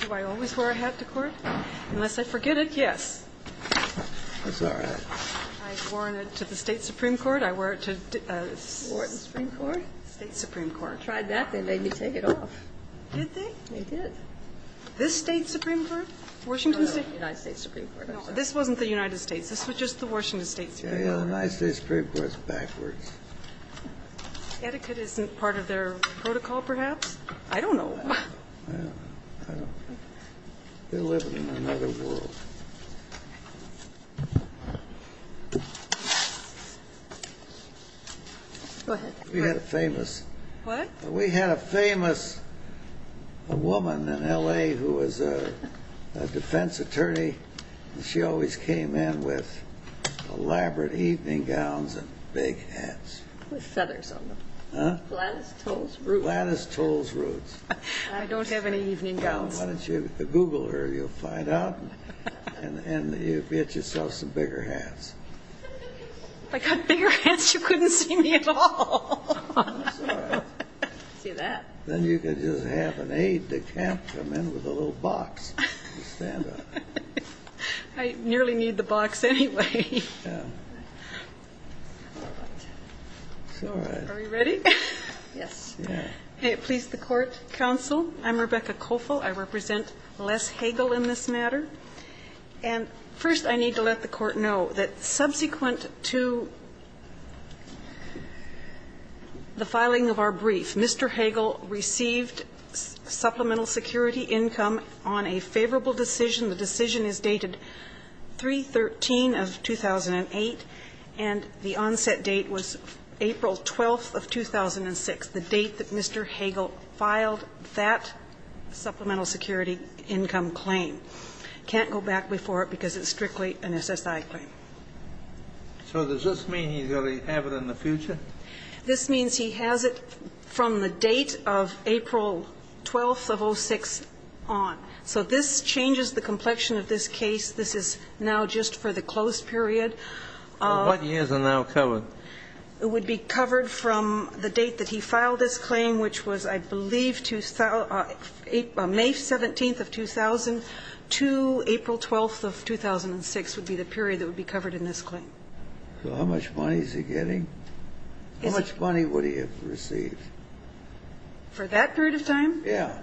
Do I always wear a hat to court? Unless I forget it, yes. I wore it to the State Supreme Court. I wear it to the State Supreme Court. I tried that. They made me take it off. Did they? They did. This State Supreme Court, Washington State? No, the United States Supreme Court. No, this wasn't the United States. This was just the Washington State Supreme Court. Yeah, the United States Supreme Court is backwards. Etiquette isn't part of their protocol, perhaps? I don't know. I don't know. They're living in another world. We had a famous woman in L.A. who was a defense attorney, and she always came in with elaborate evening gowns and big hats. With feathers on them. Huh? Gladys Towles roots. Gladys Towles roots. I don't have any evening gowns. Why don't you Google her? You'll find out. And you'll get yourself some bigger hats. If I got bigger hats, you couldn't see me at all. It's all right. See that? Then you could just have an aide to come in with a little box. You'd stand up. I nearly need the box anyway. Yeah. It's all right. Are we ready? Yes. Yeah. May it please the court, counsel. I'm Rebecca Koffel. I represent Les Hagel in this matter. And first I need to let the court know that subsequent to the filing of our brief, Mr. Hagel received supplemental security income on a favorable decision. The decision is dated 3-13 of 2008, and the onset date was April 12th of 2006, the date that Mr. Hagel filed that supplemental security income claim. Can't go back before it because it's strictly an SSI claim. So does this mean he's going to have it in the future? This means he has it from the date of April 12th of 06 on. So this changes the complexion of this case. This is now just for the closed period. What years are now covered? It would be covered from the date that he filed this claim, which was, I believe, May 17th of 2000 to April 12th of 2006 would be the period that would be covered in this claim. So how much money is he getting? How much money would he have received? For that period of time? Yeah.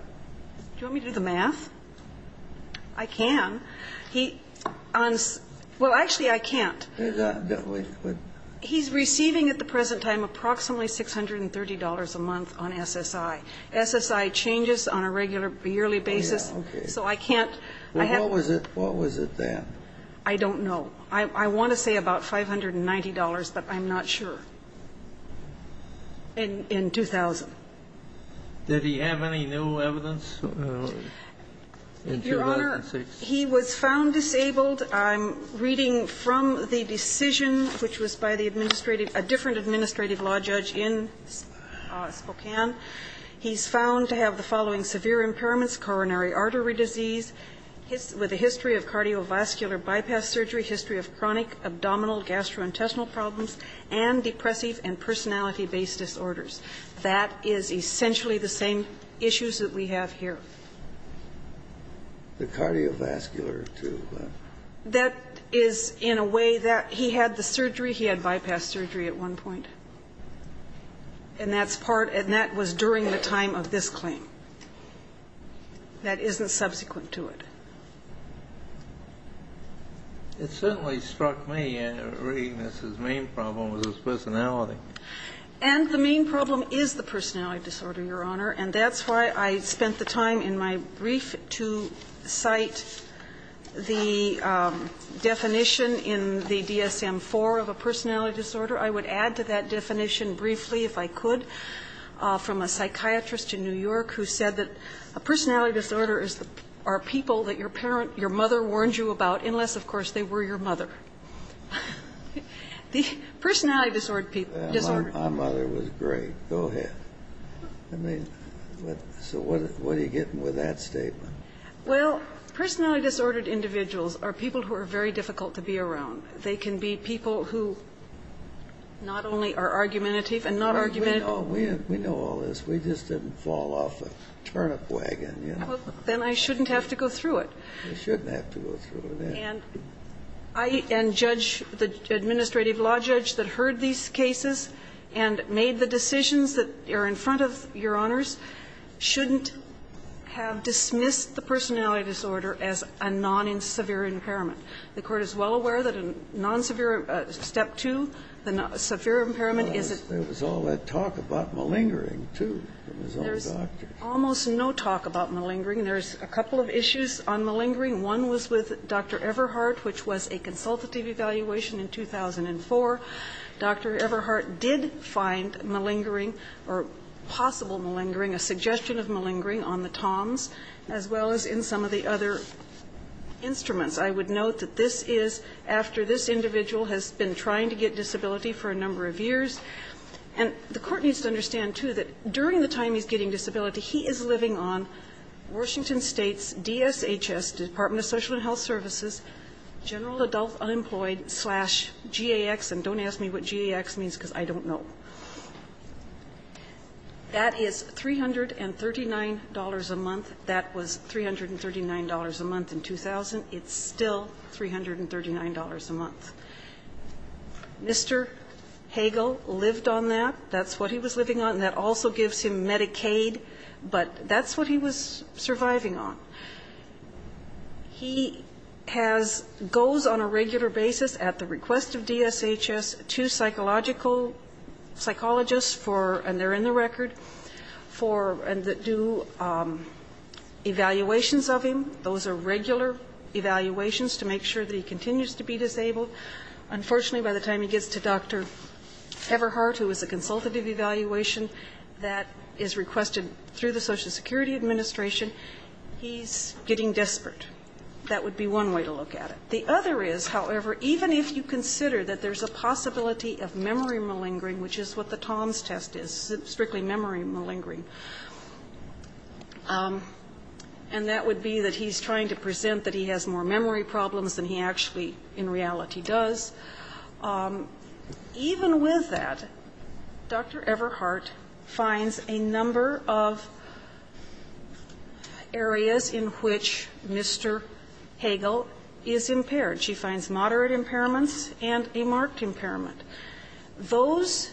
Do you want me to do the math? I can. He owns – well, actually, I can't. He's receiving at the present time approximately $630 a month on SSI. SSI changes on a regular yearly basis, so I can't – Well, what was it then? I don't know. I want to say about $590, but I'm not sure. In 2000. Did he have any new evidence? Your Honor, he was found disabled. I'm reading from the decision, which was by the administrative – a different administrative law judge in Spokane. He's found to have the following severe impairments, coronary artery disease, with a history of cardiovascular bypass surgery, history of chronic abdominal gastrointestinal problems, and depressive and personality-based disorders. That is essentially the same issues that we have here. The cardiovascular, too. That is in a way that – he had the surgery, he had bypass surgery at one point, and that's part – and that was during the time of this claim. That isn't subsequent to it. It certainly struck me, reading this, his main problem was his personality. And the main problem is the personality disorder, Your Honor, and that's why I in my brief to cite the definition in the DSM-IV of a personality disorder, I would add to that definition briefly, if I could, from a psychiatrist in New York who said that a personality disorder is – are people that your parent – your mother warned you about, unless, of course, they were your mother. The personality disorder people – disorder. My mother was great. Go ahead. I mean, so what are you getting with that statement? Well, personality disordered individuals are people who are very difficult to be around. They can be people who not only are argumentative and not argumentative. We know all this. We just didn't fall off a turnip wagon, you know. Then I shouldn't have to go through it. You shouldn't have to go through it, yeah. And judge – the administrative law judge that heard these cases and made the judgment, both, Your Honors, shouldn't have dismissed the personality disorder as a non-severe impairment. The Court is well aware that a non-severe – Step 2, the severe impairment is a – There was all that talk about malingering, too, from his own doctor. There's almost no talk about malingering. There's a couple of issues on malingering. One was with Dr. Everhart, which was a consultative evaluation in 2004. Dr. Everhart did find malingering or possible malingering, a suggestion of malingering, on the TOMS as well as in some of the other instruments. I would note that this is after this individual has been trying to get disability for a number of years. And the Court needs to understand, too, that during the time he's getting disability, he is living on Washington State's DSHS, Department of Social and Health Services, General Adult Unemployed slash GAX. And don't ask me what GAX means, because I don't know. That is $339 a month. That was $339 a month in 2000. It's still $339 a month. Mr. Hagel lived on that. That's what he was living on. That also gives him Medicaid. But that's what he was surviving on. He has, goes on a regular basis at the request of DSHS to psychological psychologists for, and they're in the record, for, and that do evaluations of him. Those are regular evaluations to make sure that he continues to be disabled. Unfortunately, by the time he gets to Dr. Everhart, who is a consultative evaluation that is requested through the Social Security Administration, he's getting desperate. That would be one way to look at it. The other is, however, even if you consider that there's a possibility of memory malingering, which is what the TOMS test is, strictly memory malingering, and that would be that he's trying to present that he has more memory problems than he actually, in reality, does, even with that, Dr. Everhart finds a number of, areas in which Mr. Hagel is impaired. She finds moderate impairments and a marked impairment. Those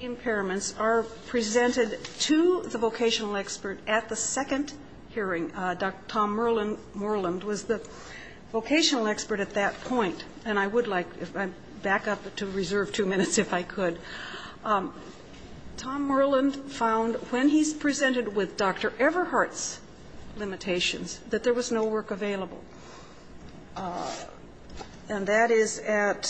impairments are presented to the vocational expert at the second hearing. Dr. Tom Merland was the vocational expert at that point, and I would like, if I back up to reserve two minutes, if I could. Tom Merland found, when he's presented with Dr. Everhart's limitations, that there was no work available. And that is at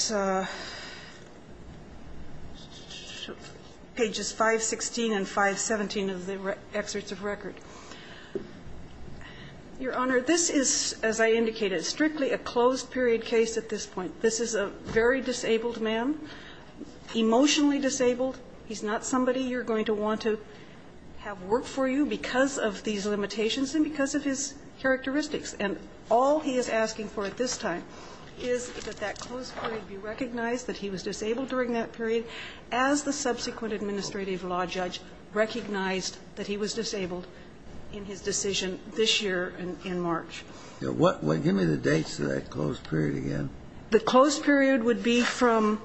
pages 516 and 517 of the excerpts of record. Your Honor, this is, as I indicated, strictly a closed period case at this point. This is a very disabled man, emotionally disabled. He's not somebody you're going to want to have work for you because of these limitations and because of his characteristics. And all he is asking for at this time is that that closed period be recognized, that he was disabled during that period, as the subsequent administrative law judge recognized that he was disabled in his decision this year in March. Give me the dates of that closed period again. The closed period would be from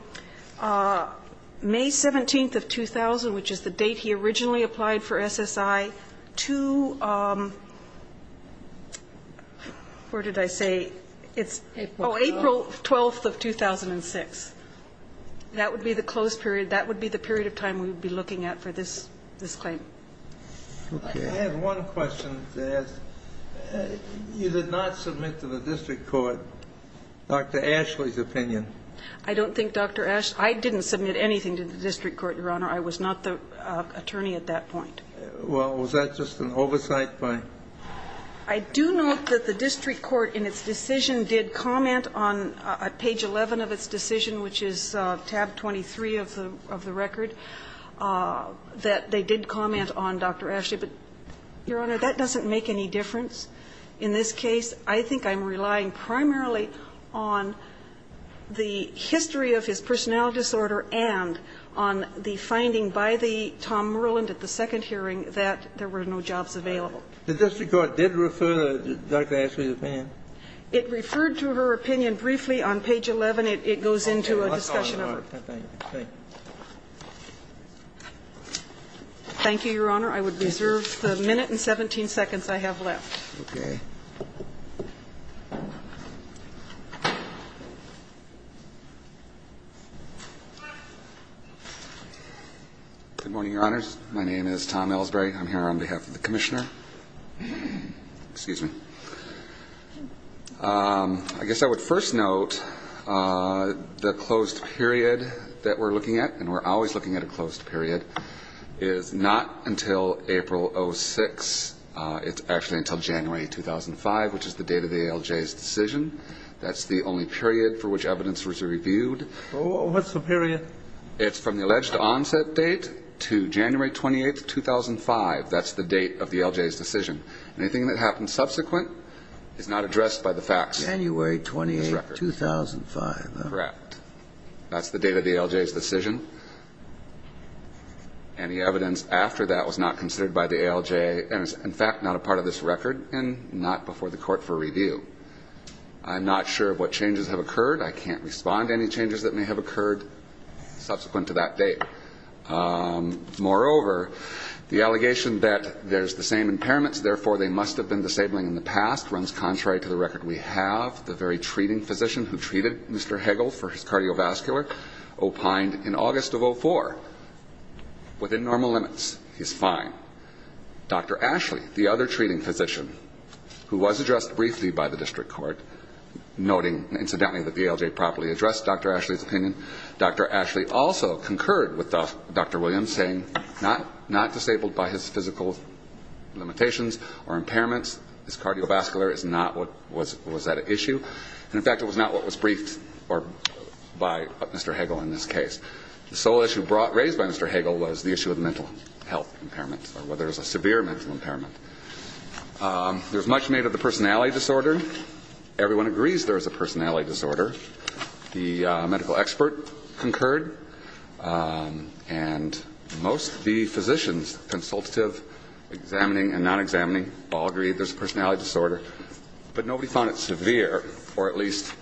May 17th of 2000, which is the date he originally applied for SSI, to, where did I say, oh, April 12th of 2006. That would be the closed period. That would be the period of time we would be looking at for this claim. I have one question to ask. You did not submit to the district court Dr. Ashley's opinion. I don't think Dr. Ashley, I didn't submit anything to the district court, Your Honor. I was not the attorney at that point. Well, was that just an oversight by? I do note that the district court in its decision did comment on page 11 of its decision, which is tab 23 of the record, that they did comment on Dr. Ashley. But, Your Honor, that doesn't make any difference in this case. I think I'm relying primarily on the history of his personality disorder and on the finding by the Tom Merland at the second hearing that there were no jobs available. The district court did refer Dr. Ashley's opinion? It referred to her opinion briefly on page 11. It goes into a discussion of her. Thank you, Your Honor. I would reserve the minute and 17 seconds I have left. Okay. Good morning, Your Honors. My name is Tom Elsberry. I'm here on behalf of the commissioner. I guess I would first note the closed period that we're looking at, and we're always looking at a closed period, is not until April 06. It's actually until January 2005, which is the date of the ALJ's decision. That's the only period for which evidence was reviewed. What's the period? It's from the alleged onset date to January 28, 2005. That's the date of the ALJ's decision. Anything that happens subsequent is not addressed by the facts. January 28, 2005. Correct. That's the date of the ALJ's decision. Any evidence after that was not considered by the ALJ and is, in fact, not a part of this record and not before the court for review. I'm not sure of what changes have occurred. I can't respond to any changes that may have occurred subsequent to that date. Moreover, the allegation that there's the same impairments, therefore they must have been disabling in the past, runs contrary to the record we have. The very treating physician who treated Mr. Hagel for his cardiovascular opined in August of 2004, within normal limits, he's fine. Dr. Ashley, the other treating physician, who was addressed briefly by the district court, noting incidentally that the ALJ properly addressed Dr. Ashley's opinion, Dr. Ashley also concurred with Dr. Williams, saying not disabled by his physical limitations or impairments, his cardiovascular is not what was at issue. And, in fact, it was not what was briefed by Mr. Hagel in this case. The sole issue raised by Mr. Hagel was the issue of mental health impairment or whether there's a severe mental impairment. There's much made of the personality disorder. Everyone agrees there is a personality disorder. The medical expert concurred. And most of the physicians, consultative, examining and non-examining, all agree there's a personality disorder. But nobody found it severe, or at least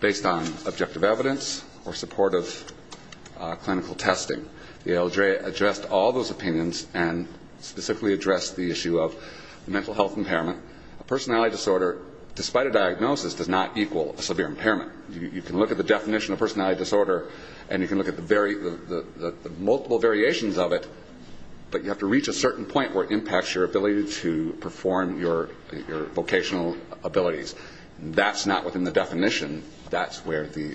based on objective evidence or supportive clinical testing. The ALJ addressed all those opinions and specifically addressed the issue of mental health impairment. A personality disorder, despite a diagnosis, does not equal a severe impairment. You can look at the definition of personality disorder and you can look at the multiple variations of it, but you have to reach a certain point where it impacts your ability to perform your vocational abilities. That's not within the definition. That's where the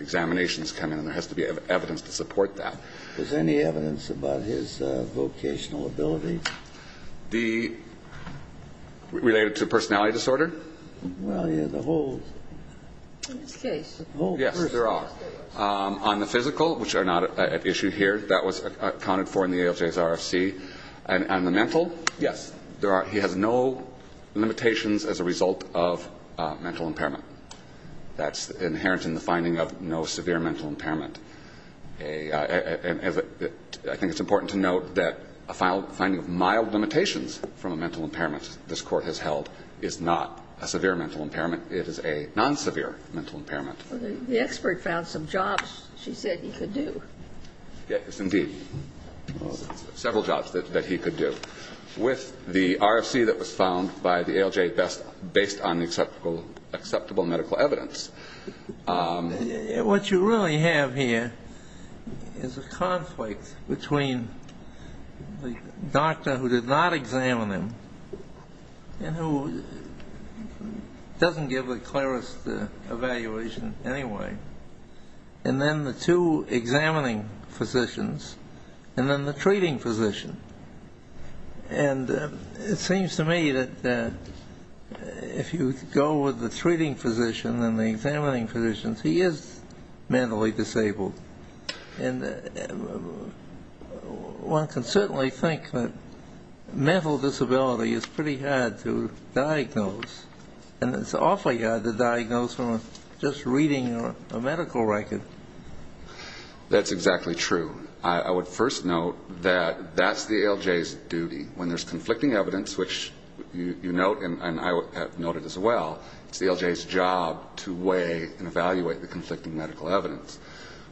examinations come in, and there has to be evidence to support that. Is there any evidence about his vocational abilities? Related to personality disorder? Well, yeah, the whole case. Yes, there are. On the physical, which are not at issue here, that was accounted for in the ALJ's RFC. And on the mental, yes, there are. He has no limitations as a result of mental impairment. That's inherent in the finding of no severe mental impairment. I think it's important to note that a finding of mild limitations from a mental impairment this Court has held is not a severe mental impairment. It is a non-severe mental impairment. The expert found some jobs she said he could do. Yes, indeed. Several jobs that he could do. With the RFC that was found by the ALJ based on acceptable medical evidence. What you really have here is a conflict between the doctor who did not examine him and who doesn't give the clearest evaluation anyway, and then the two examining physicians, and then the treating physician. And it seems to me that if you go with the treating physician and the examining physician, he is mentally disabled. And one can certainly think that mental disability is pretty hard to diagnose, and it's awfully hard to diagnose from just reading a medical record. That's exactly true. I would first note that that's the ALJ's duty. When there's conflicting evidence, which you note and I have noted as well, it's the ALJ's job to weigh and evaluate the conflicting medical evidence.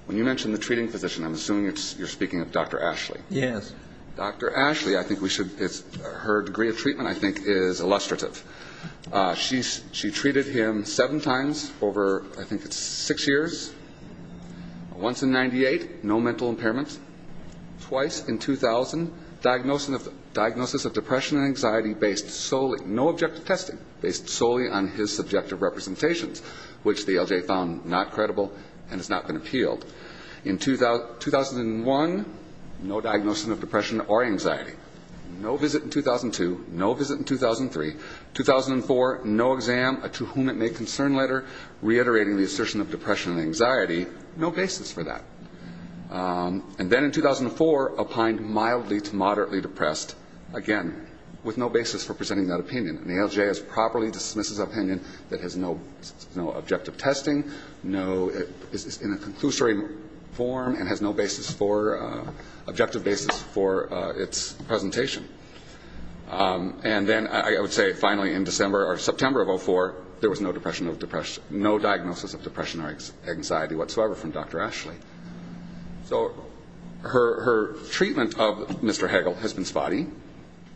When you mention the treating physician, I'm assuming you're speaking of Dr. Ashley. Yes. Dr. Ashley, her degree of treatment I think is illustrative. She treated him seven times over, I think it's six years. Once in 98, no mental impairment. Twice in 2000, diagnosis of depression and anxiety based solely, no objective testing, based solely on his subjective representations, which the ALJ found not and appealed. In 2001, no diagnosis of depression or anxiety. No visit in 2002, no visit in 2003. 2004, no exam, to whom it may concern later, reiterating the assertion of depression and anxiety, no basis for that. And then in 2004, applied mildly to moderately depressed, again, with no basis for presenting that opinion. And the ALJ has properly dismissed his opinion that has no objective testing, is in a conclusory form and has no objective basis for its presentation. And then I would say finally in September of 2004, there was no diagnosis of depression or anxiety whatsoever from Dr. Ashley. So her treatment of Mr. Hagel has been spotty.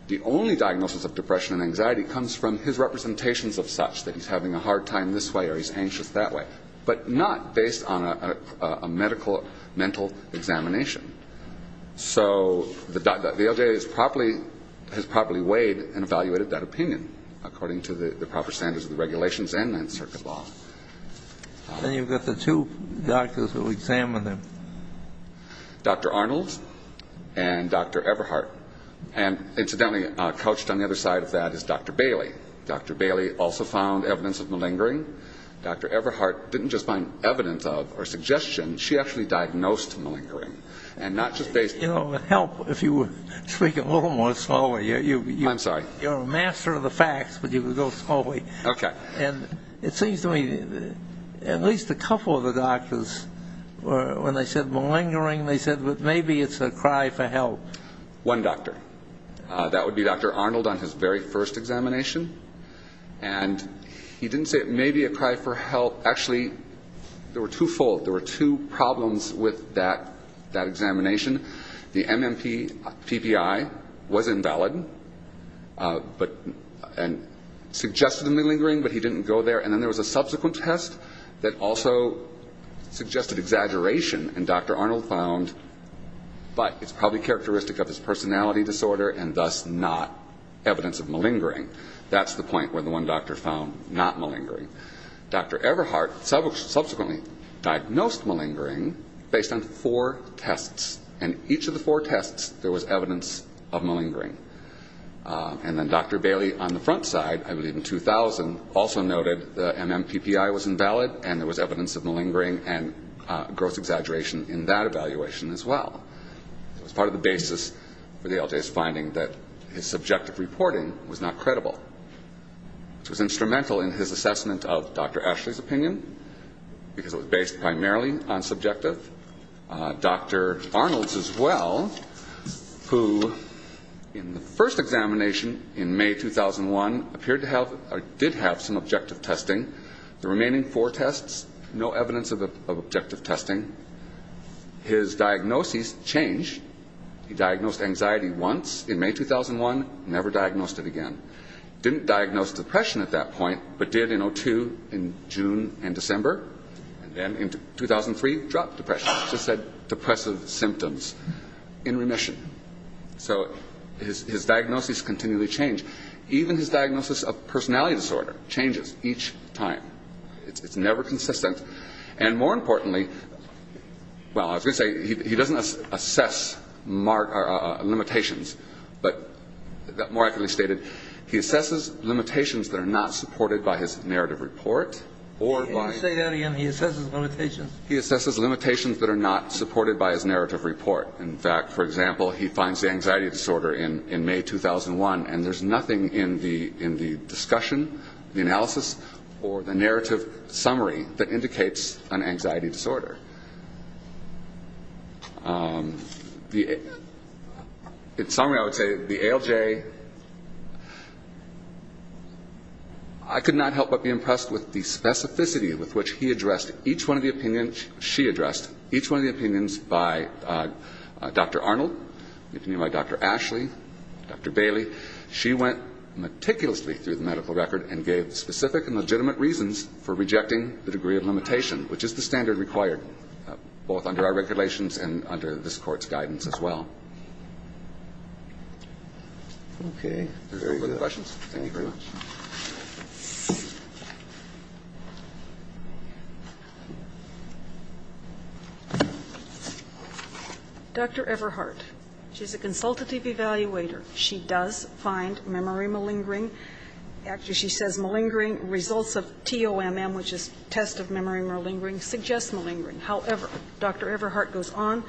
The only diagnosis of depression and anxiety comes from his representations of such, that he's having a hard time this way or he's anxious that way, but not based on a medical mental examination. So the ALJ has properly weighed and evaluated that opinion according to the proper standards of the regulations and Ninth Circuit law. And you've got the two doctors who examined him. Dr. Arnold and Dr. Everhart. And, incidentally, couched on the other side of that is Dr. Bailey. Dr. Bailey also found evidence of malingering. Dr. Everhart didn't just find evidence of or suggestion, she actually diagnosed malingering. And not just based on that. You know, with help, if you would speak a little more slowly. I'm sorry. You're a master of the facts, but you would go slowly. Okay. And it seems to me at least a couple of the doctors, when they said malingering, they said, well, maybe it's a cry for help. One doctor. That would be Dr. Arnold on his very first examination. And he didn't say it may be a cry for help. Actually, there were twofold. There were two problems with that examination. The MMPPI was invalid and suggested malingering, but he didn't go there. And then there was a subsequent test that also suggested exaggeration, and Dr. Arnold found, but it's probably characteristic of his personality disorder and thus not evidence of malingering. That's the point where the one doctor found not malingering. Dr. Everhart subsequently diagnosed malingering based on four tests, and each of the four tests there was evidence of malingering. And then Dr. Bailey on the front side, I believe in 2000, also noted the MMPPI was invalid and there was evidence of malingering and gross exaggeration in that evaluation as well. It was part of the basis for the LJ's finding that his subjective reporting was not credible, which was instrumental in his assessment of Dr. Ashley's opinion because it was based primarily on subjective. Dr. Arnold, as well, who in the first examination in May 2001 did have some objective testing. The remaining four tests, no evidence of objective testing. His diagnoses changed. He diagnosed anxiety once in May 2001, never diagnosed it again. Didn't diagnose depression at that point, but did in 2002 in June and December, and then in 2003 dropped depression. Just said depressive symptoms in remission. So his diagnoses continually change. Even his diagnosis of personality disorder changes each time. It's never consistent. And more importantly, well, I was going to say he doesn't assess limitations, but more accurately stated, he assesses limitations that are not supported by his narrative report. Say that again. He assesses limitations. He assesses limitations that are not supported by his narrative report. In fact, for example, he finds anxiety disorder in May 2001, and there's nothing in the discussion, the analysis, or the narrative summary that indicates an anxiety disorder. In summary, I would say the ALJ, I could not help but be impressed with the specificity with which he addressed each one of the opinions, she addressed each one of the opinions by Dr. Arnold, by Dr. Ashley, Dr. Bailey. She went meticulously through the medical record and gave specific and legitimate reasons for rejecting the degree of limitation, which is the standard required both under our regulations and under this Court's guidance as well. Okay. Are there any other questions? Thank you very much. Dr. Everhart, she's a consultative evaluator. She does find memory malingering. Actually, she says malingering results of TOMM, which is test of memory malingering, suggest malingering. However, Dr. Everhart goes on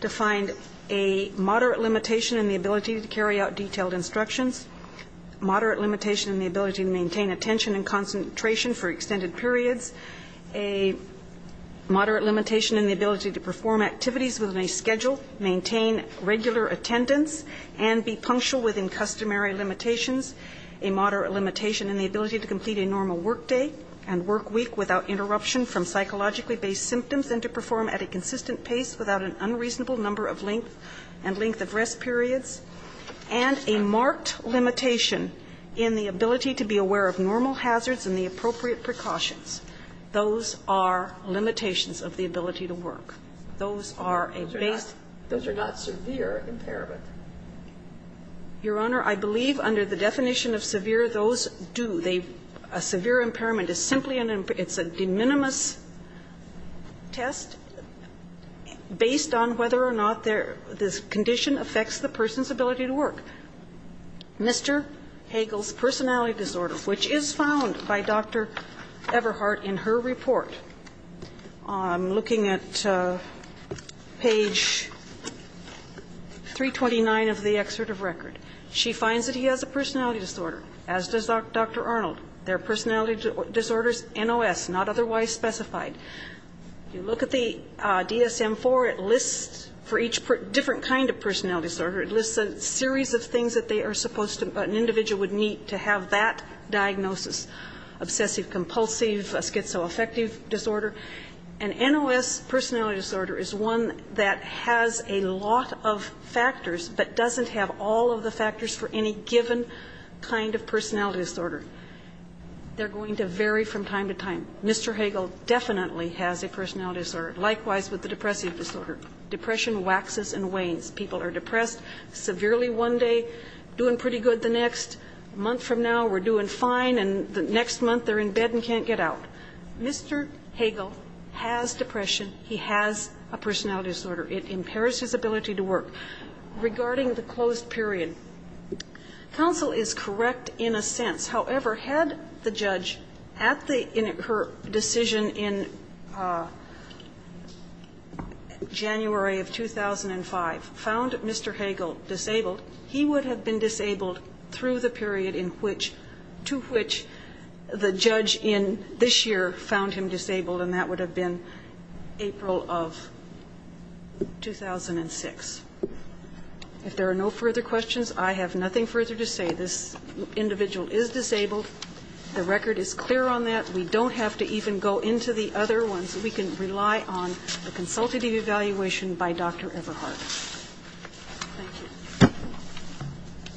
to find a moderate limitation in the ability to carry out detailed instructions, moderate limitation in the ability to maintain attention and concentration for extended periods, a moderate limitation in the ability to perform activities within a schedule, maintain regular attendance, and be punctual within customary limitations, a moderate limitation in the ability to complete a normal work day and work week without interruption from psychologically based symptoms and to perform at a consistent pace without an unreasonable number of length and length of rest periods, and a marked limitation in the ability to be aware of normal hazards and the appropriate precautions. Those are limitations of the ability to work. Those are a base. Those are not severe impairment. Your Honor, I believe under the definition of severe, those do. A severe impairment is simply an impairment. It's a de minimis test based on whether or not this condition affects the person's ability to work. Mr. Hagel's personality disorder, which is found by Dr. Everhart in her report, looking at page 329 of the excerpt of record, she finds that he has a personality disorder. As does Dr. Arnold. Their personality disorder is NOS, not otherwise specified. You look at the DSM-IV. It lists for each different kind of personality disorder. It lists a series of things that they are supposed to, an individual would need to have that diagnosis, obsessive compulsive, schizoaffective disorder. An NOS personality disorder is one that has a lot of factors but doesn't have all of the factors for any given kind of personality disorder. They're going to vary from time to time. Mr. Hagel definitely has a personality disorder. Likewise with the depressive disorder. Depression waxes and wanes. People are depressed severely one day, doing pretty good the next. A month from now we're doing fine, and the next month they're in bed and can't get out. Mr. Hagel has depression. He has a personality disorder. It impairs his ability to work. Regarding the closed period, counsel is correct in a sense. However, had the judge at the end of her decision in January of 2005 found Mr. Hagel disabled, he would have been disabled through the period in which to which the judge in this year found him disabled, and that would have been April of 2006. If there are no further questions, I have nothing further to say. This individual is disabled. The record is clear on that. We don't have to even go into the other ones. We can rely on the consultative evaluation by Dr. Everhart. Thank you. Thank you.